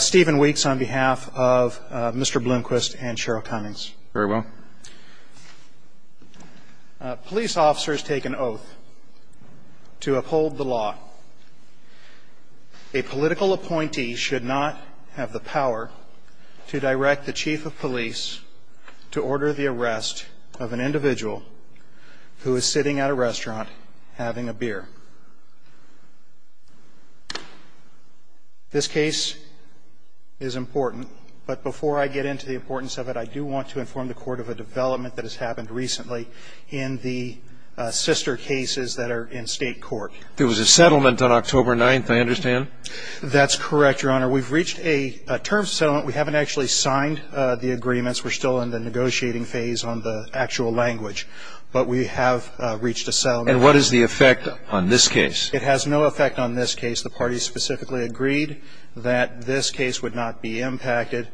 Stephen Weeks on behalf of Mr. Blomquist and Cheryl Cummings. Very well. Police officers take an oath to uphold the law. A political appointee should not have the power to direct the chief of police to order the arrest of an individual who is sitting at a restaurant having a beer. This case is important, but before I get into the importance of it, I do want to inform the court of a development that has happened recently in the sister cases that are in state court. There was a settlement on October 9th, I understand? That's correct, your honor. We've reached a term settlement. We haven't actually signed the agreements. We're still in the And what is the effect on this case? It has no effect on this case. The party specifically agreed that this case would not be impacted.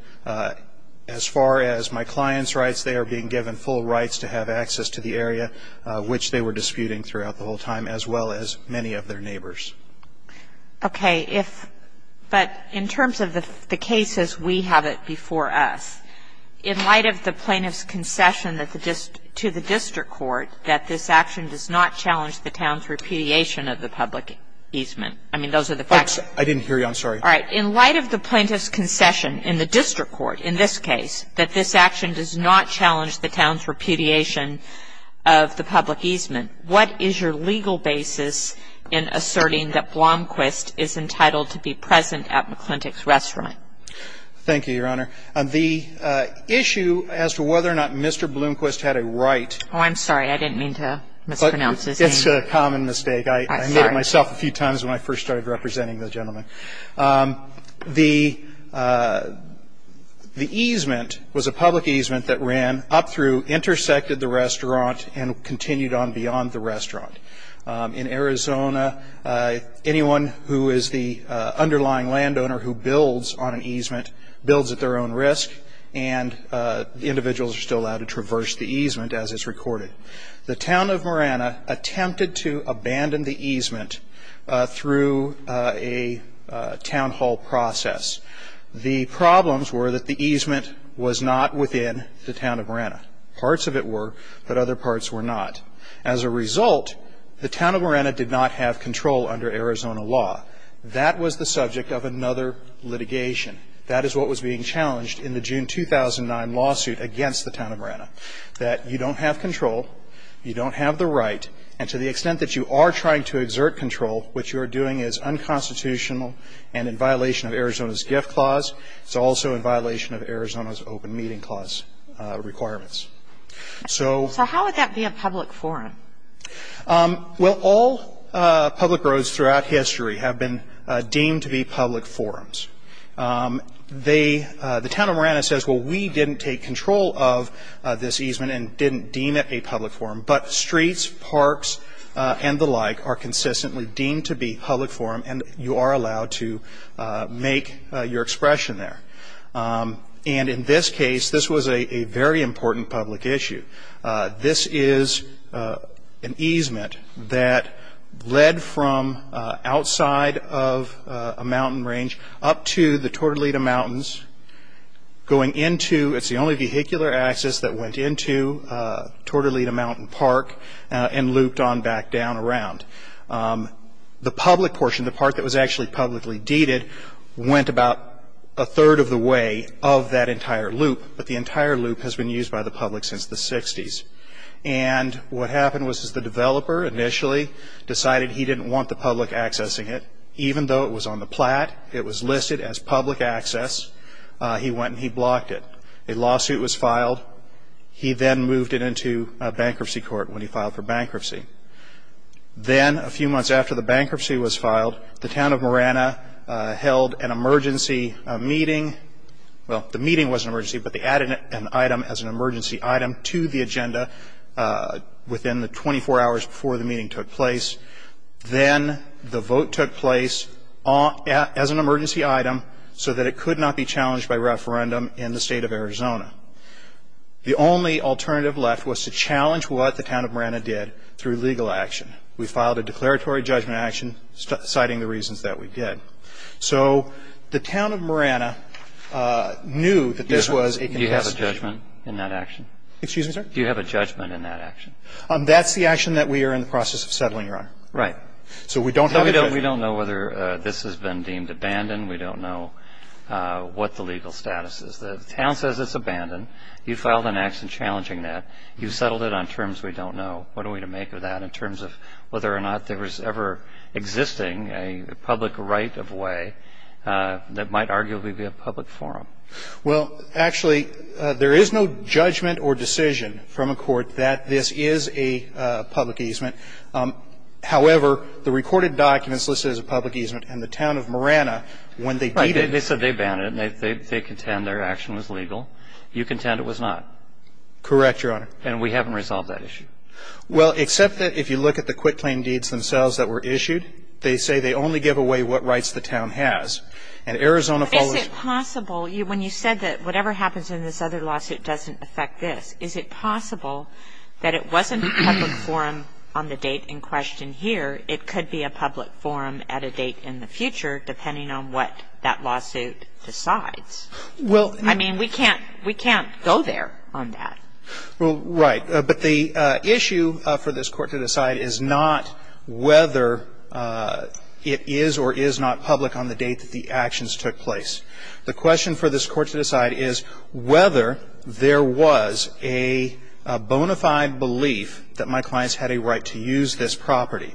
As far as my client's rights, they are being given full rights to have access to the area, which they were disputing throughout the whole time, as well as many of their neighbors. Okay. But in terms of the cases, we have it before us. In light of the plaintiff's concession to the district court that this action does not challenge the town's repudiation of the public easement. I mean, those are the facts. I didn't hear you. I'm sorry. All right. In light of the plaintiff's concession in the district court in this case that this action does not challenge the town's repudiation of the public easement, what is your legal basis in asserting that Blomquist is entitled to be present at McClintick's restaurant? Thank you, your honor. The issue as to whether or not Mr. Blomquist had a right. Oh, I'm sorry. I didn't mean to mispronounce his name. It's a common mistake. I made it myself a few times when I first started representing the gentleman. The easement was a public easement that ran up through, intersected the restaurant, and continued on beyond the restaurant. In Arizona, anyone who is the underlying landowner who builds on an easement builds at their own risk, and individuals are still allowed to traverse the easement as it's recorded. The town of Marana attempted to abandon the easement through a town hall process. The problems were that the easement was not within the town of Marana. Parts of it were, but other parts were not. As a result, the town of Marana did not have control under Arizona law. That was the subject of another litigation. That is what was being challenged in the June 2009 lawsuit against the town of Marana, that you don't have control, you don't have the right, and to the extent that you are trying to exert control, what you are doing is unconstitutional and in violation of Arizona's gift clause. It's also in violation of Arizona's open meeting clause requirements. So how would that be a public forum? Well, all public roads throughout history have been deemed to be public forums. The town of Marana says, well, we didn't take control of this easement and didn't deem it a public forum, but streets, parks, and the like are consistently deemed to be public forum, and you are allowed to make your expression there. And in this case, this was a very important public issue. This is an easement that led from outside of a mountain range up to the Tortolita Mountains, going into, it's the only vehicular access that went into Tortolita Mountain Park and looped on back down around. The public portion, the part that was actually publicly deeded, went about a third of the way of that entire loop, but the entire loop has been used by the public since the 60s. And what happened was the developer initially decided he didn't want the public accessing it. Even though it was on the plat, it was listed as public access. He went and he blocked it. A lawsuit was filed. He then moved it into a bankruptcy court when he filed for bankruptcy. Then a few months after the bankruptcy was filed, the town of Marana held an emergency meeting. Well, the meeting was an emergency, but they added an item as an emergency item to the agenda within the 24 hours before the meeting took place. Then the vote took place as an emergency item so that it could not be challenged by referendum in the state of Arizona. The only alternative left was to challenge what the town of Marana did through legal action. We filed a challenge, but the town of Marana knew that this was a contested case. Do you have a judgment in that action? Excuse me, sir? Do you have a judgment in that action? That's the action that we are in the process of settling, Your Honor. Right. So we don't have a judgment. We don't know whether this has been deemed abandoned. We don't know what the legal status is. The town says it's abandoned. You filed an action challenging that. You settled it on terms we don't know. What are we to make of that in terms of whether or not there was ever existing a public right of way that might arguably be a public forum? Well, actually, there is no judgment or decision from a court that this is a public easement. However, the recorded documents listed as a public easement in the town of Marana, when they did it they said they banned it and they contend their action was legal. You contend it was not. Correct, Your Honor. And we haven't resolved that issue. Well, except that if you look at the quitclaim deeds themselves that were issued, they say they only give away what rights the town has. And Arizona follows Is it possible, when you said that whatever happens in this other lawsuit doesn't affect this, is it possible that it wasn't a public forum on the date in question here, it could be a public forum at a date in the future, depending on what that lawsuit decides? Well, I mean, we can't go there on that. Well, right. But the issue for this Court to decide is not whether it is or is not public on the date that the actions took place. The question for this Court to decide is whether there was a bona fide belief that my clients had a right to use this property.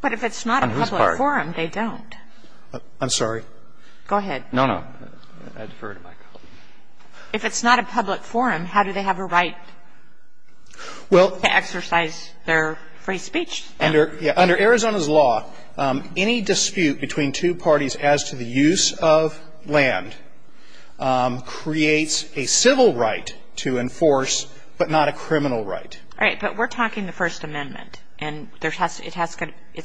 But if it's not a public forum, they don't. I'm sorry? Go ahead. No, no. I defer to my colleague. If it's not a public forum, how do they have a right to exercise their free speech? Under Arizona's law, any dispute between two parties as to the use of land creates a civil right to enforce, but not a criminal right. Right. But we're talking the First Amendment. And it's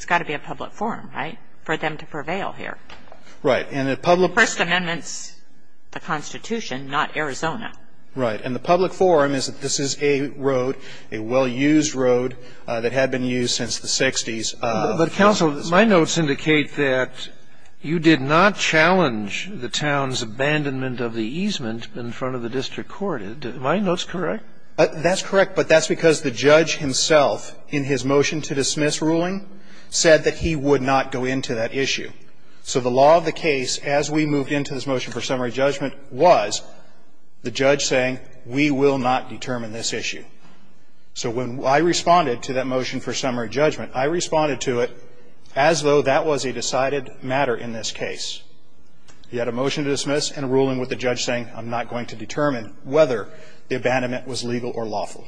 got to be a public forum, right, for them to prevail here. Right. And the public forum is that this is a road, a well-used road, that had been used since the 60s. But, Counsel, my notes indicate that you did not challenge the town's abandonment of the easement in front of the District Court. Are my notes correct? That's correct. But that's because the judge himself, in his motion to dismiss ruling, said that he would not go into that issue. So the law of the case, as we moved into this motion for summary judgment, was the judge saying, we will not determine this issue. So when I responded to that motion for summary judgment, I responded to it as though that was a decided matter in this case. He had a motion to dismiss and a ruling with the judge saying, I'm not going to determine whether the abandonment was legal or lawful.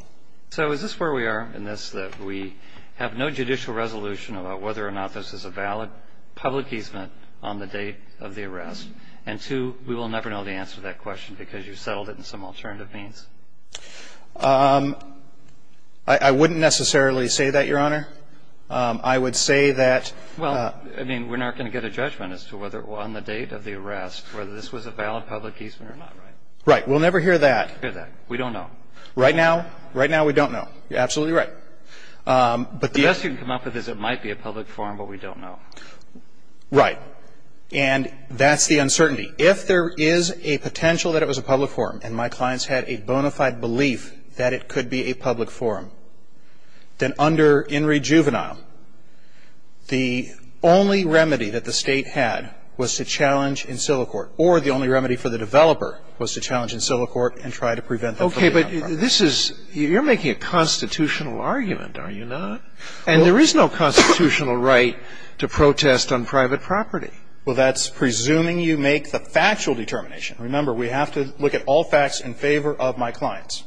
So is this where we are in this, that we have no judicial resolution about whether or not this is a valid public easement on the date of the arrest? And, two, we will never know the answer to that question because you settled it in some alternative means. I wouldn't necessarily say that, Your Honor. I would say that ---- Well, I mean, we're not going to get a judgment as to whether on the date of the arrest, whether this was a valid public easement or not, right? Right. We'll never hear that. We don't know. Right now? Right now, we don't know. You're absolutely right. But the ---- Right. And that's the uncertainty. If there is a potential that it was a public forum and my clients had a bona fide belief that it could be a public forum, then under In re Juvenile, the only remedy that the State had was to challenge in silicort or the only remedy for the developer was to challenge in silicort and try to prevent the public outcome. Okay. But this is ---- You're making a constitutional argument, are you not? And there is no constitutional right to protest on private property. Well, that's presuming you make the factual determination. Remember, we have to look at all facts in favor of my clients.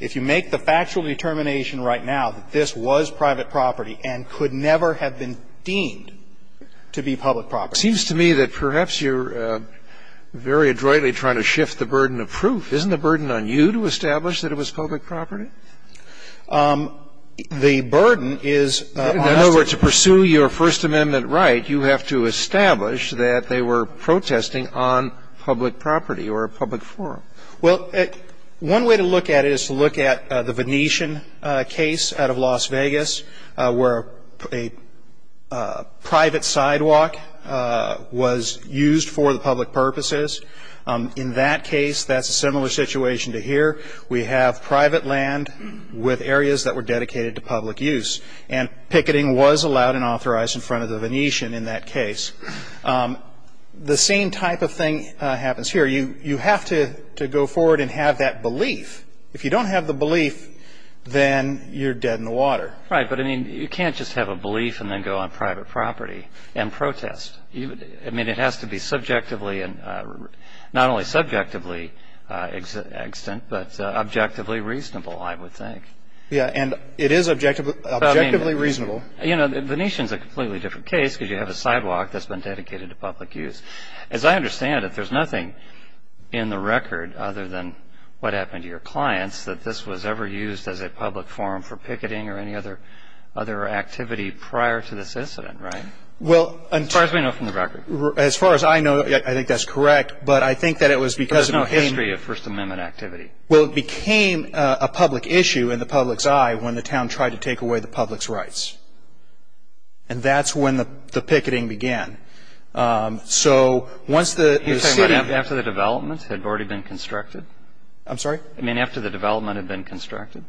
If you make the factual determination right now that this was private property and could never have been deemed to be public property ---- It seems to me that perhaps you're very adroitly trying to shift the burden of I'm not sure that that's the case. So you have to establish that it was public property? The burden is ---- In other words, to pursue your First Amendment right, you have to establish that they were protesting on public property or a public forum. Well, one way to look at it is to look at the Venetian case out of Las Vegas where a private sidewalk was used for the public purposes. In that case, that's a similar situation to here. We have private land with areas that were dedicated to public use. And picketing was allowed and authorized in front of the Venetian in that case. The same type of thing happens here. You have to go forward and have that belief. If you don't have the belief, then you're dead in the water. Right. But, I mean, you can't just have a belief and then go on private property and protest. I mean, it has to be subjectively, not only subjectively extant, but objectively reasonable, I would think. Yeah. And it is objectively reasonable. You know, the Venetian is a completely different case because you have a sidewalk that's been dedicated to public use. As I understand it, there's nothing in the record other than what happened to your clients that this was ever used as a public forum for picketing or any other activity prior to this incident, right? Well, as far as we know from the record. As far as I know, I think that's correct. But I think that it was because it became There's no history of First Amendment activity. Well, it became a public issue in the public's eye when the town tried to take away the public's rights. And that's when the picketing began. So once the city You're talking about after the development had already been constructed? I'm sorry? I mean, after the development had been constructed?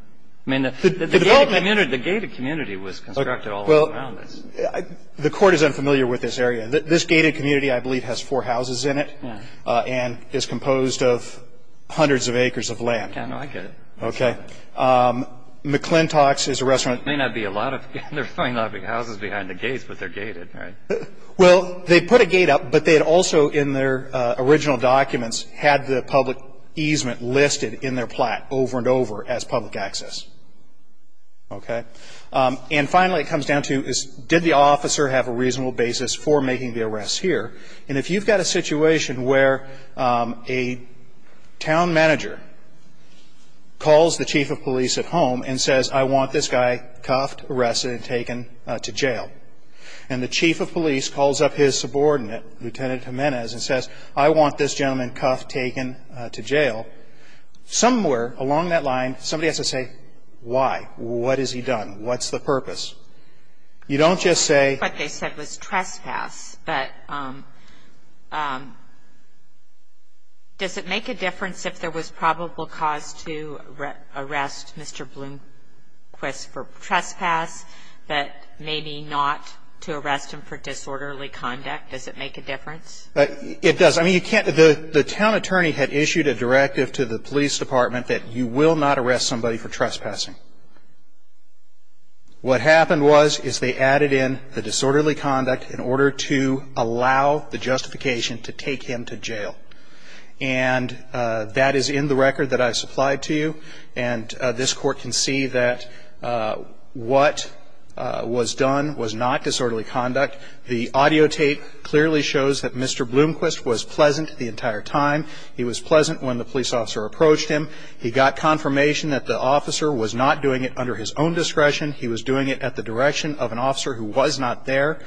I mean, the gated community was constructed all around this. Well, the Court is unfamiliar with this area. This gated community, I believe, has four houses in it and is composed of hundreds of acres of land. Yeah, no, I get it. Okay. McClintock's is a restaurant There may not be a lot of houses behind the gates, but they're gated, right? Well, they put a gate up, but they had also in their original documents had the And finally, it comes down to, did the officer have a reasonable basis for making the arrest here? And if you've got a situation where a town manager calls the chief of police at home and says, I want this guy cuffed, arrested, and taken to jail, and the chief of police calls up his subordinate, Lieutenant Jimenez, and says, I want this gentleman cuffed, taken to jail, somewhere along that line, somebody has to say, why? What has he done? What's the purpose? You don't just say What they said was trespass, but does it make a difference if there was probable cause to arrest Mr. Blomquist for trespass, but maybe not to arrest him for disorderly conduct? Does it make a difference? It does. I mean, you can't the town attorney had issued a directive to the police department that you will not arrest somebody for trespassing. What happened was is they added in the disorderly conduct in order to allow the justification to take him to jail. And that is in the record that I supplied to you. And this court can see that what was done was not disorderly conduct. The audio tape clearly shows that Mr. Blomquist was pleasant the entire time. He was pleasant when the police officer approached him. He got confirmation that the officer was not doing it under his own discretion. He was doing it at the direction of an officer who was not there.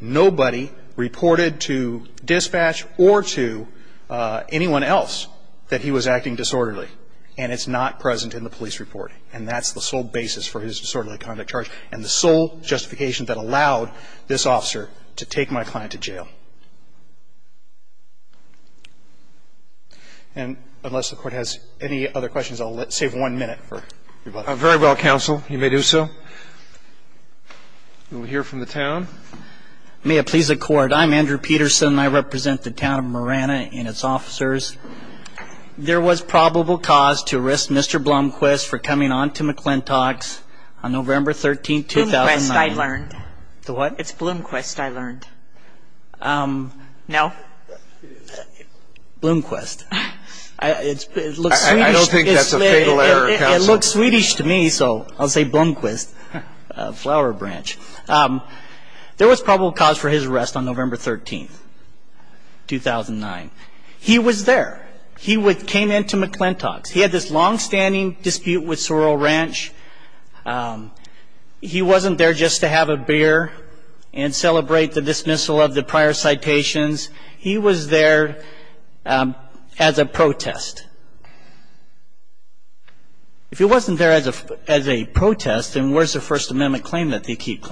Nobody reported to dispatch or to anyone else that he was acting disorderly. And it's not present in the police report. And that's the sole basis for his disorderly conduct charge and the sole justification that allowed this officer to take my client to jail. And unless the court has any other questions, I'll save one minute for very well. Counsel, you may do so. We'll hear from the town. May it please the court. I'm Andrew Peterson. I represent the town of Marana and its officers. There was probable cause to risk Mr. Blomquist for coming on to me. No? Blomquist. I don't think that's a fatal error, counsel. It looks Swedish to me, so I'll say Blomquist, flower branch. There was probable cause for his arrest on November 13th, 2009. He was there. He came into McClintock's. He had this longstanding dispute with Sorrel Ranch. He wasn't there just to have a beer and celebrate the dismissal of the prior citations. He was there as a protest. If he wasn't there as a protest, then where's the First Amendment claim that they keep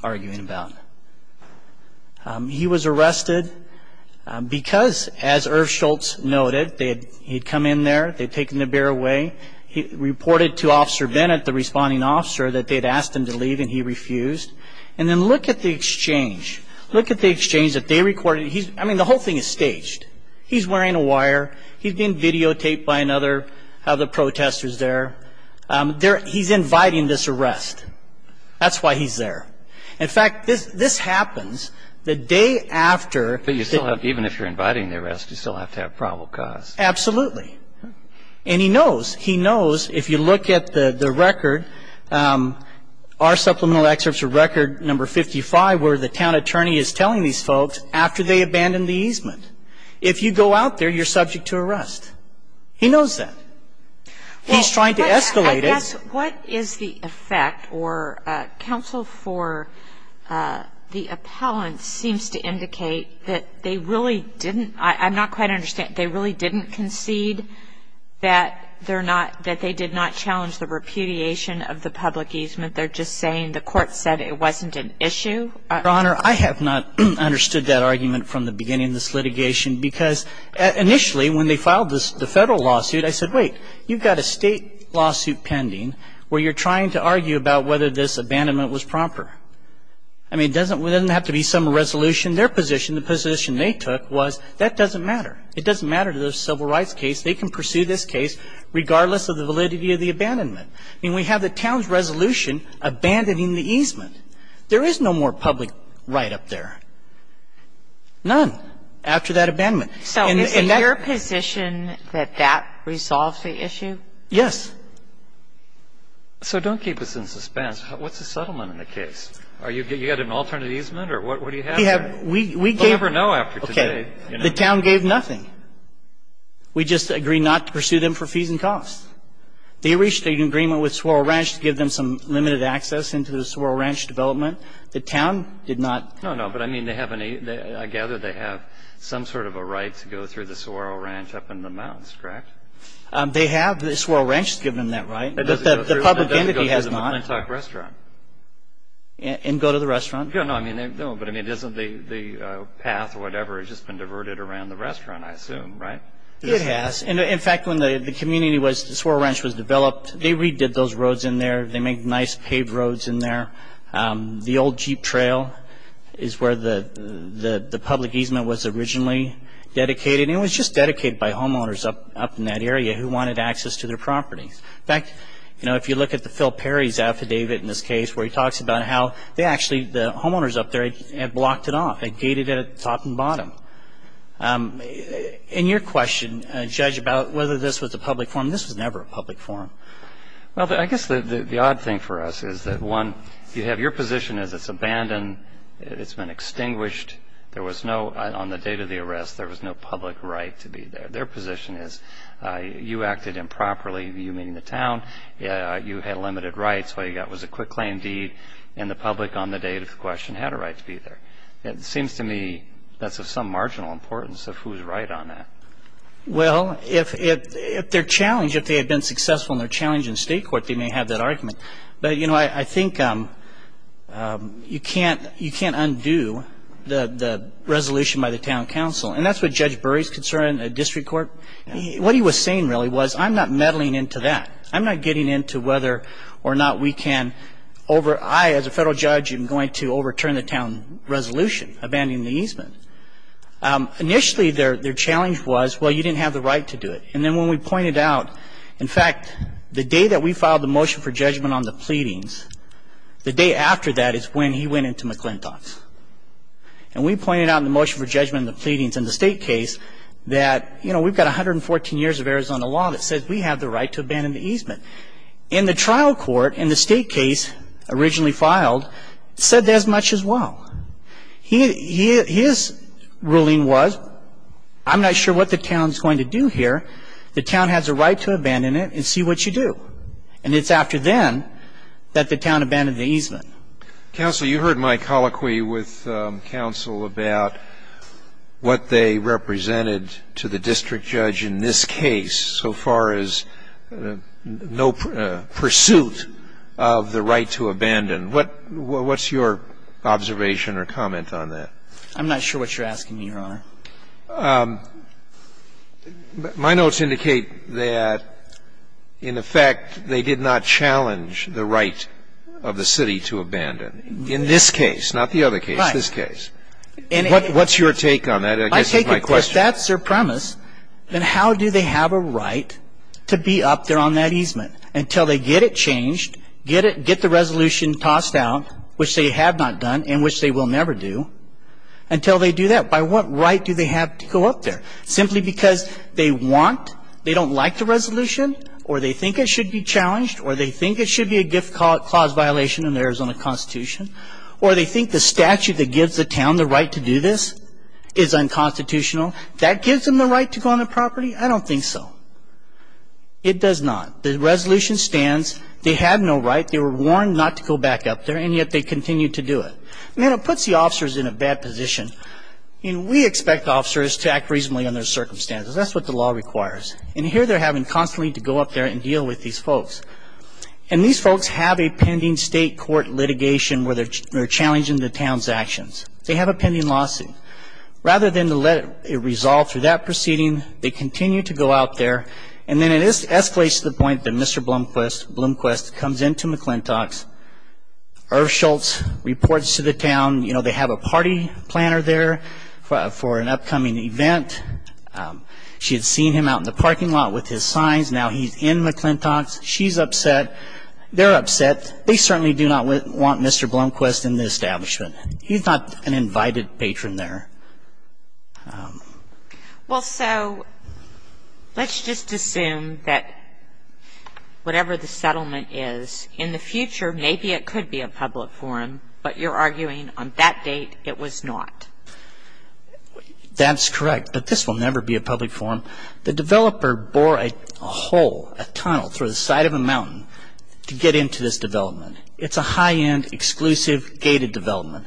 arguing about? He was arrested because, as Irv Schultz noted, he'd come in there, they'd taken the beer away. He reported to Officer and he refused. And then look at the exchange. Look at the exchange that they recorded. I mean, the whole thing is staged. He's wearing a wire. He's being videotaped by another of the protesters there. He's inviting this arrest. That's why he's there. In fact, this happens the day after. But even if you're inviting the arrest, you still have to have probable cause. Absolutely. And he knows. He knows. If you look at the record, our supplemental excerpts of record number 55, where the town attorney is telling these folks after they abandon the easement, if you go out there, you're subject to arrest. He knows that. He's trying to escalate it. What is the effect or counsel for the appellant seems to indicate that they really didn't. I'm not quite understanding. They really didn't concede that they're not, that they did not challenge the repudiation of the public easement. They're just saying the court said it wasn't an issue? Your Honor, I have not understood that argument from the beginning of this litigation because initially when they filed the Federal lawsuit, I said, wait, you've got a State lawsuit pending where you're trying to argue about whether this abandonment was proper. I mean, it doesn't have to be some resolution. But it doesn't have to be a resolution. So it's not in the position, their position, the position they took, was that doesn't matter. It doesn't matter to the civil rights case. They can pursue this case regardless of the validity of the abandonment. I mean, we have the town's resolution abandoning the easement. There is no more public right up there. None, after that abandonment. And that So is it in your position that that resolves the issue? Yes. So don't keep us in suspense. What's the settlement in the case? Are you getting an alternate easement or what do you have there? We gave We'll never know after today. Okay. The town gave nothing. We just agreed not to pursue them for fees and costs. They reached an agreement with Swarrel Ranch to give them some limited access into the Swarrel Ranch development. The town did not No, no. I gather they have some sort of a right to go through the Swarrel Ranch up in the mountains, correct? They have. The Swarrel Ranch has given them that right. But the public entity has not. They have to go to the Montauk restaurant. And go to the restaurant? No, but I mean, isn't the path or whatever has just been diverted around the restaurant, I assume, right? It has. In fact, when the community was the Swarrel Ranch was developed, they redid those roads in there. They make nice paved roads in there. The old Jeep trail is where the public easement was originally dedicated. It was just dedicated by homeowners up in that area who wanted access to their properties. In fact, if you look at the Phil Perry's affidavit in this case where he talks about how they actually, the homeowners up there had blocked it off. They gated it at the top and bottom. And your question, Judge, about whether this was a public forum, this was never a public forum. Well, I guess the odd thing for us is that, one, you have your position as it's abandoned, it's been extinguished. There was no, on the date of the arrest, there was no public right to be there. Their position is you acted improperly, you meaning the town. You had limited rights. All you got was a quick claim deed. And the public on the date of the question had a right to be there. It seems to me that's of some marginal importance of who's right on that. Well, if their challenge, if they had been successful in their challenge in state court, they may have that argument. But, you know, I think you can't undo the resolution by the town council. And that's what Judge Burry's concern, a district court. What he was saying really was I'm not meddling into that. I'm not getting into whether or not we can over, I as a federal judge am going to overturn the town resolution, abandoning the easement. Initially, their challenge was, well, you didn't have the right to do it. And then when we pointed out, in fact, the day that we filed the motion for judgment on the pleadings, the day after that is when he went into McClintock's. And we pointed out in the motion for judgment on the pleadings in the state case that, you know, we've got 114 years of Arizona law that says we have the right to abandon the easement. In the trial court, in the state case originally filed, said as much as well. He, his ruling was I'm not sure what the town's going to do here. The town has a right to abandon it and see what you do. And it's after then that the town abandoned the easement. Counsel, you heard my colloquy with counsel about what they represented to the district judge in this case so far as no pursuit of the right to abandon. What's your observation or comment on that? I'm not sure what you're asking me, Your Honor. My notes indicate that, in effect, they did not challenge the right of the city to abandon. In this case, not the other case, this case. What's your take on that? I guess that's my question. If that's their premise, then how do they have a right to be up there on that until they get it changed, get the resolution tossed out, which they have not done and which they will never do, until they do that? By what right do they have to go up there? Simply because they want, they don't like the resolution, or they think it should be challenged, or they think it should be a gift clause violation in the Arizona Constitution, or they think the statute that gives the town the right to do this is unconstitutional. That gives them the right to go on the property? I don't think so. It does not. The resolution stands. They have no right. They were warned not to go back up there, and yet they continue to do it. And it puts the officers in a bad position. We expect officers to act reasonably under circumstances. That's what the law requires. And here they're having constantly to go up there and deal with these folks. And these folks have a pending state court litigation where they're challenging the town's actions. They have a pending lawsuit. Rather than to let it resolve through that proceeding, they continue to go out there, and then it escalates to the point that Mr. Blomquist comes into McClintock's. Irv Schultz reports to the town. You know, they have a party planner there for an upcoming event. She had seen him out in the parking lot with his signs. Now he's in McClintock's. She's upset. They're upset. They certainly do not want Mr. Blomquist in the establishment. He's not an invited patron there. Well, so let's just assume that whatever the settlement is, in the future, maybe it could be a public forum. But you're arguing on that date it was not. That's correct. But this will never be a public forum. The developer bore a hole, a tunnel through the side of a mountain to get into this development. It's a high-end, exclusive, gated development.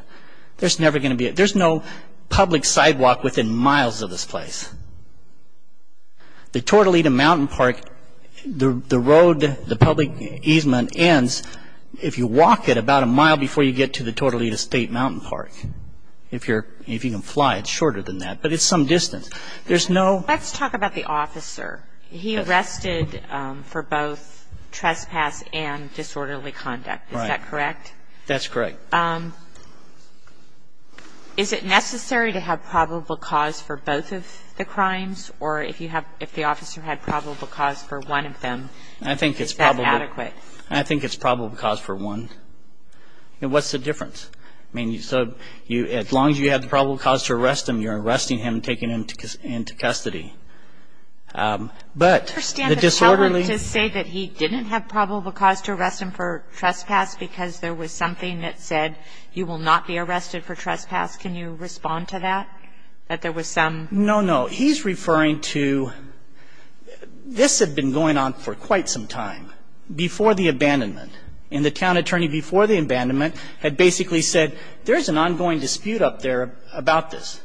There's never going to be a... There's no public sidewalk within miles of this place. The Tortolita Mountain Park, the road, the public easement ends if you walk it about a mile before you get to the Tortolita State Mountain Park. If you're... If you can fly, it's shorter than that. But it's some distance. There's no... Let's talk about the officer. He arrested for both trespass and disorderly conduct. Is that correct? That's correct. Is it necessary to have probable cause for both of the crimes? Or if you have... If the officer had probable cause for one of them, is that adequate? I think it's probable cause for one. What's the difference? I mean, so as long as you have the probable cause to arrest him, you're arresting him, taking him into custody. But the disorderly... To say that he didn't have probable cause to arrest him for trespass because there was something that said you will not be arrested for trespass. Can you respond to that? That there was some... No, no. He's referring to... This had been going on for quite some time before the abandonment. And the town attorney before the abandonment had basically said, there's an ongoing dispute up there about this.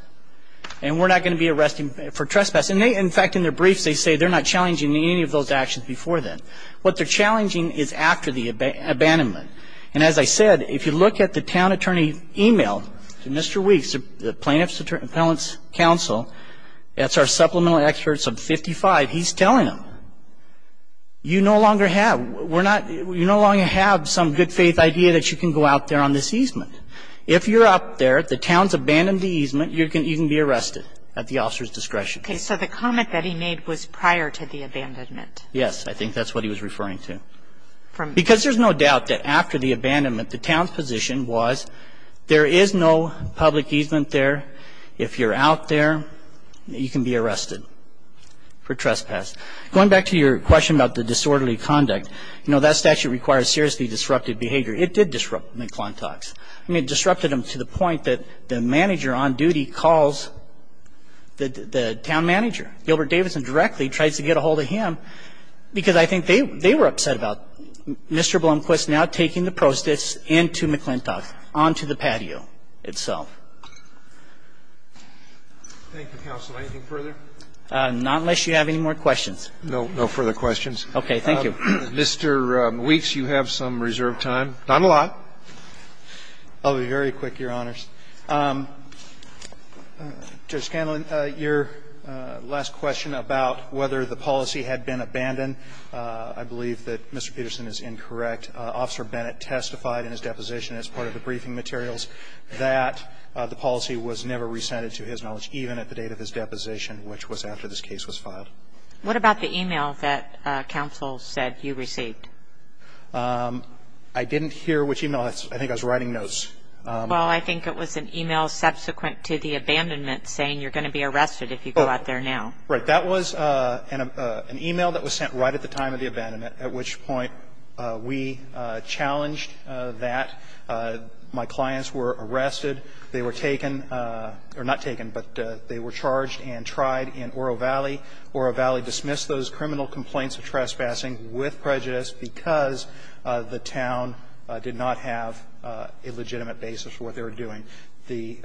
And we're not going to be arresting for trespass. And they... In fact, in their briefs, they say they're not challenging any of those actions before then. What they're challenging is after the abandonment. And as I said, if you look at the town attorney email to Mr. Weeks, the plaintiff's appellant's counsel, that's our supplemental experts of 55. He's telling them, you no longer have. We're not... You no longer have some good faith idea that you can go out there on this easement. If you're up there, the town's abandoned the easement, you can be arrested at the officer's discretion. Okay. So the comment that he made was prior to the abandonment. Yes. I think that's what he was referring to. Because there's no doubt that after the abandonment, the town's position was, there is no public easement there. If you're out there, you can be arrested for trespass. Going back to your question about the disorderly conduct, you know, that statute requires seriously disrupted behavior. It did disrupt McClintock's. I mean, it disrupted him to the point that the manager on duty calls the town manager. Gilbert Davidson directly tries to get ahold of him because I think they were upset about Mr. Blomquist now taking the prostitutes into McClintock, onto the patio itself. Thank you, counsel. Anything further? Not unless you have any more questions. No. No further questions. Okay. Thank you. Mr. Weeks, you have some reserved time. Not a lot. I'll be very quick, your honors. Judge Scanlon, your last question about whether the policy had been abandoned, I believe that Mr. Peterson is incorrect. Officer Bennett testified in his deposition as part of the briefing materials that the policy was never rescinded, to his knowledge, even at the date of his deposition, which was after this case was filed. What about the email that counsel said you received? I didn't hear which email. I think I was writing notes. Well, I think it was an email subsequent to the abandonment saying you're going to be arrested if you go out there now. Right. That was an email that was sent right at the time of the abandonment, at which point we challenged that. My clients were arrested. They were taken or not taken, but they were charged and tried in Oro Valley. Oro Valley dismissed those criminal complaints of trespassing with prejudice because the town did not have a legitimate basis for what they were doing. The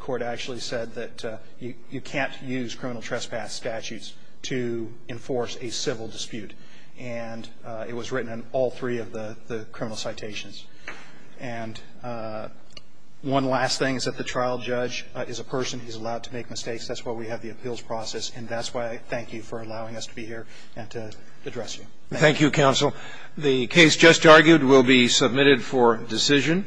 court actually said that you can't use criminal trespass statutes to enforce a civil dispute. And it was written in all three of the criminal citations. And one last thing is that the trial judge is a person who's allowed to make mistakes. That's why we have the appeals process. And that's why I thank you for allowing us to be here and to address you. Thank you, counsel. The case just argued will be submitted for decision.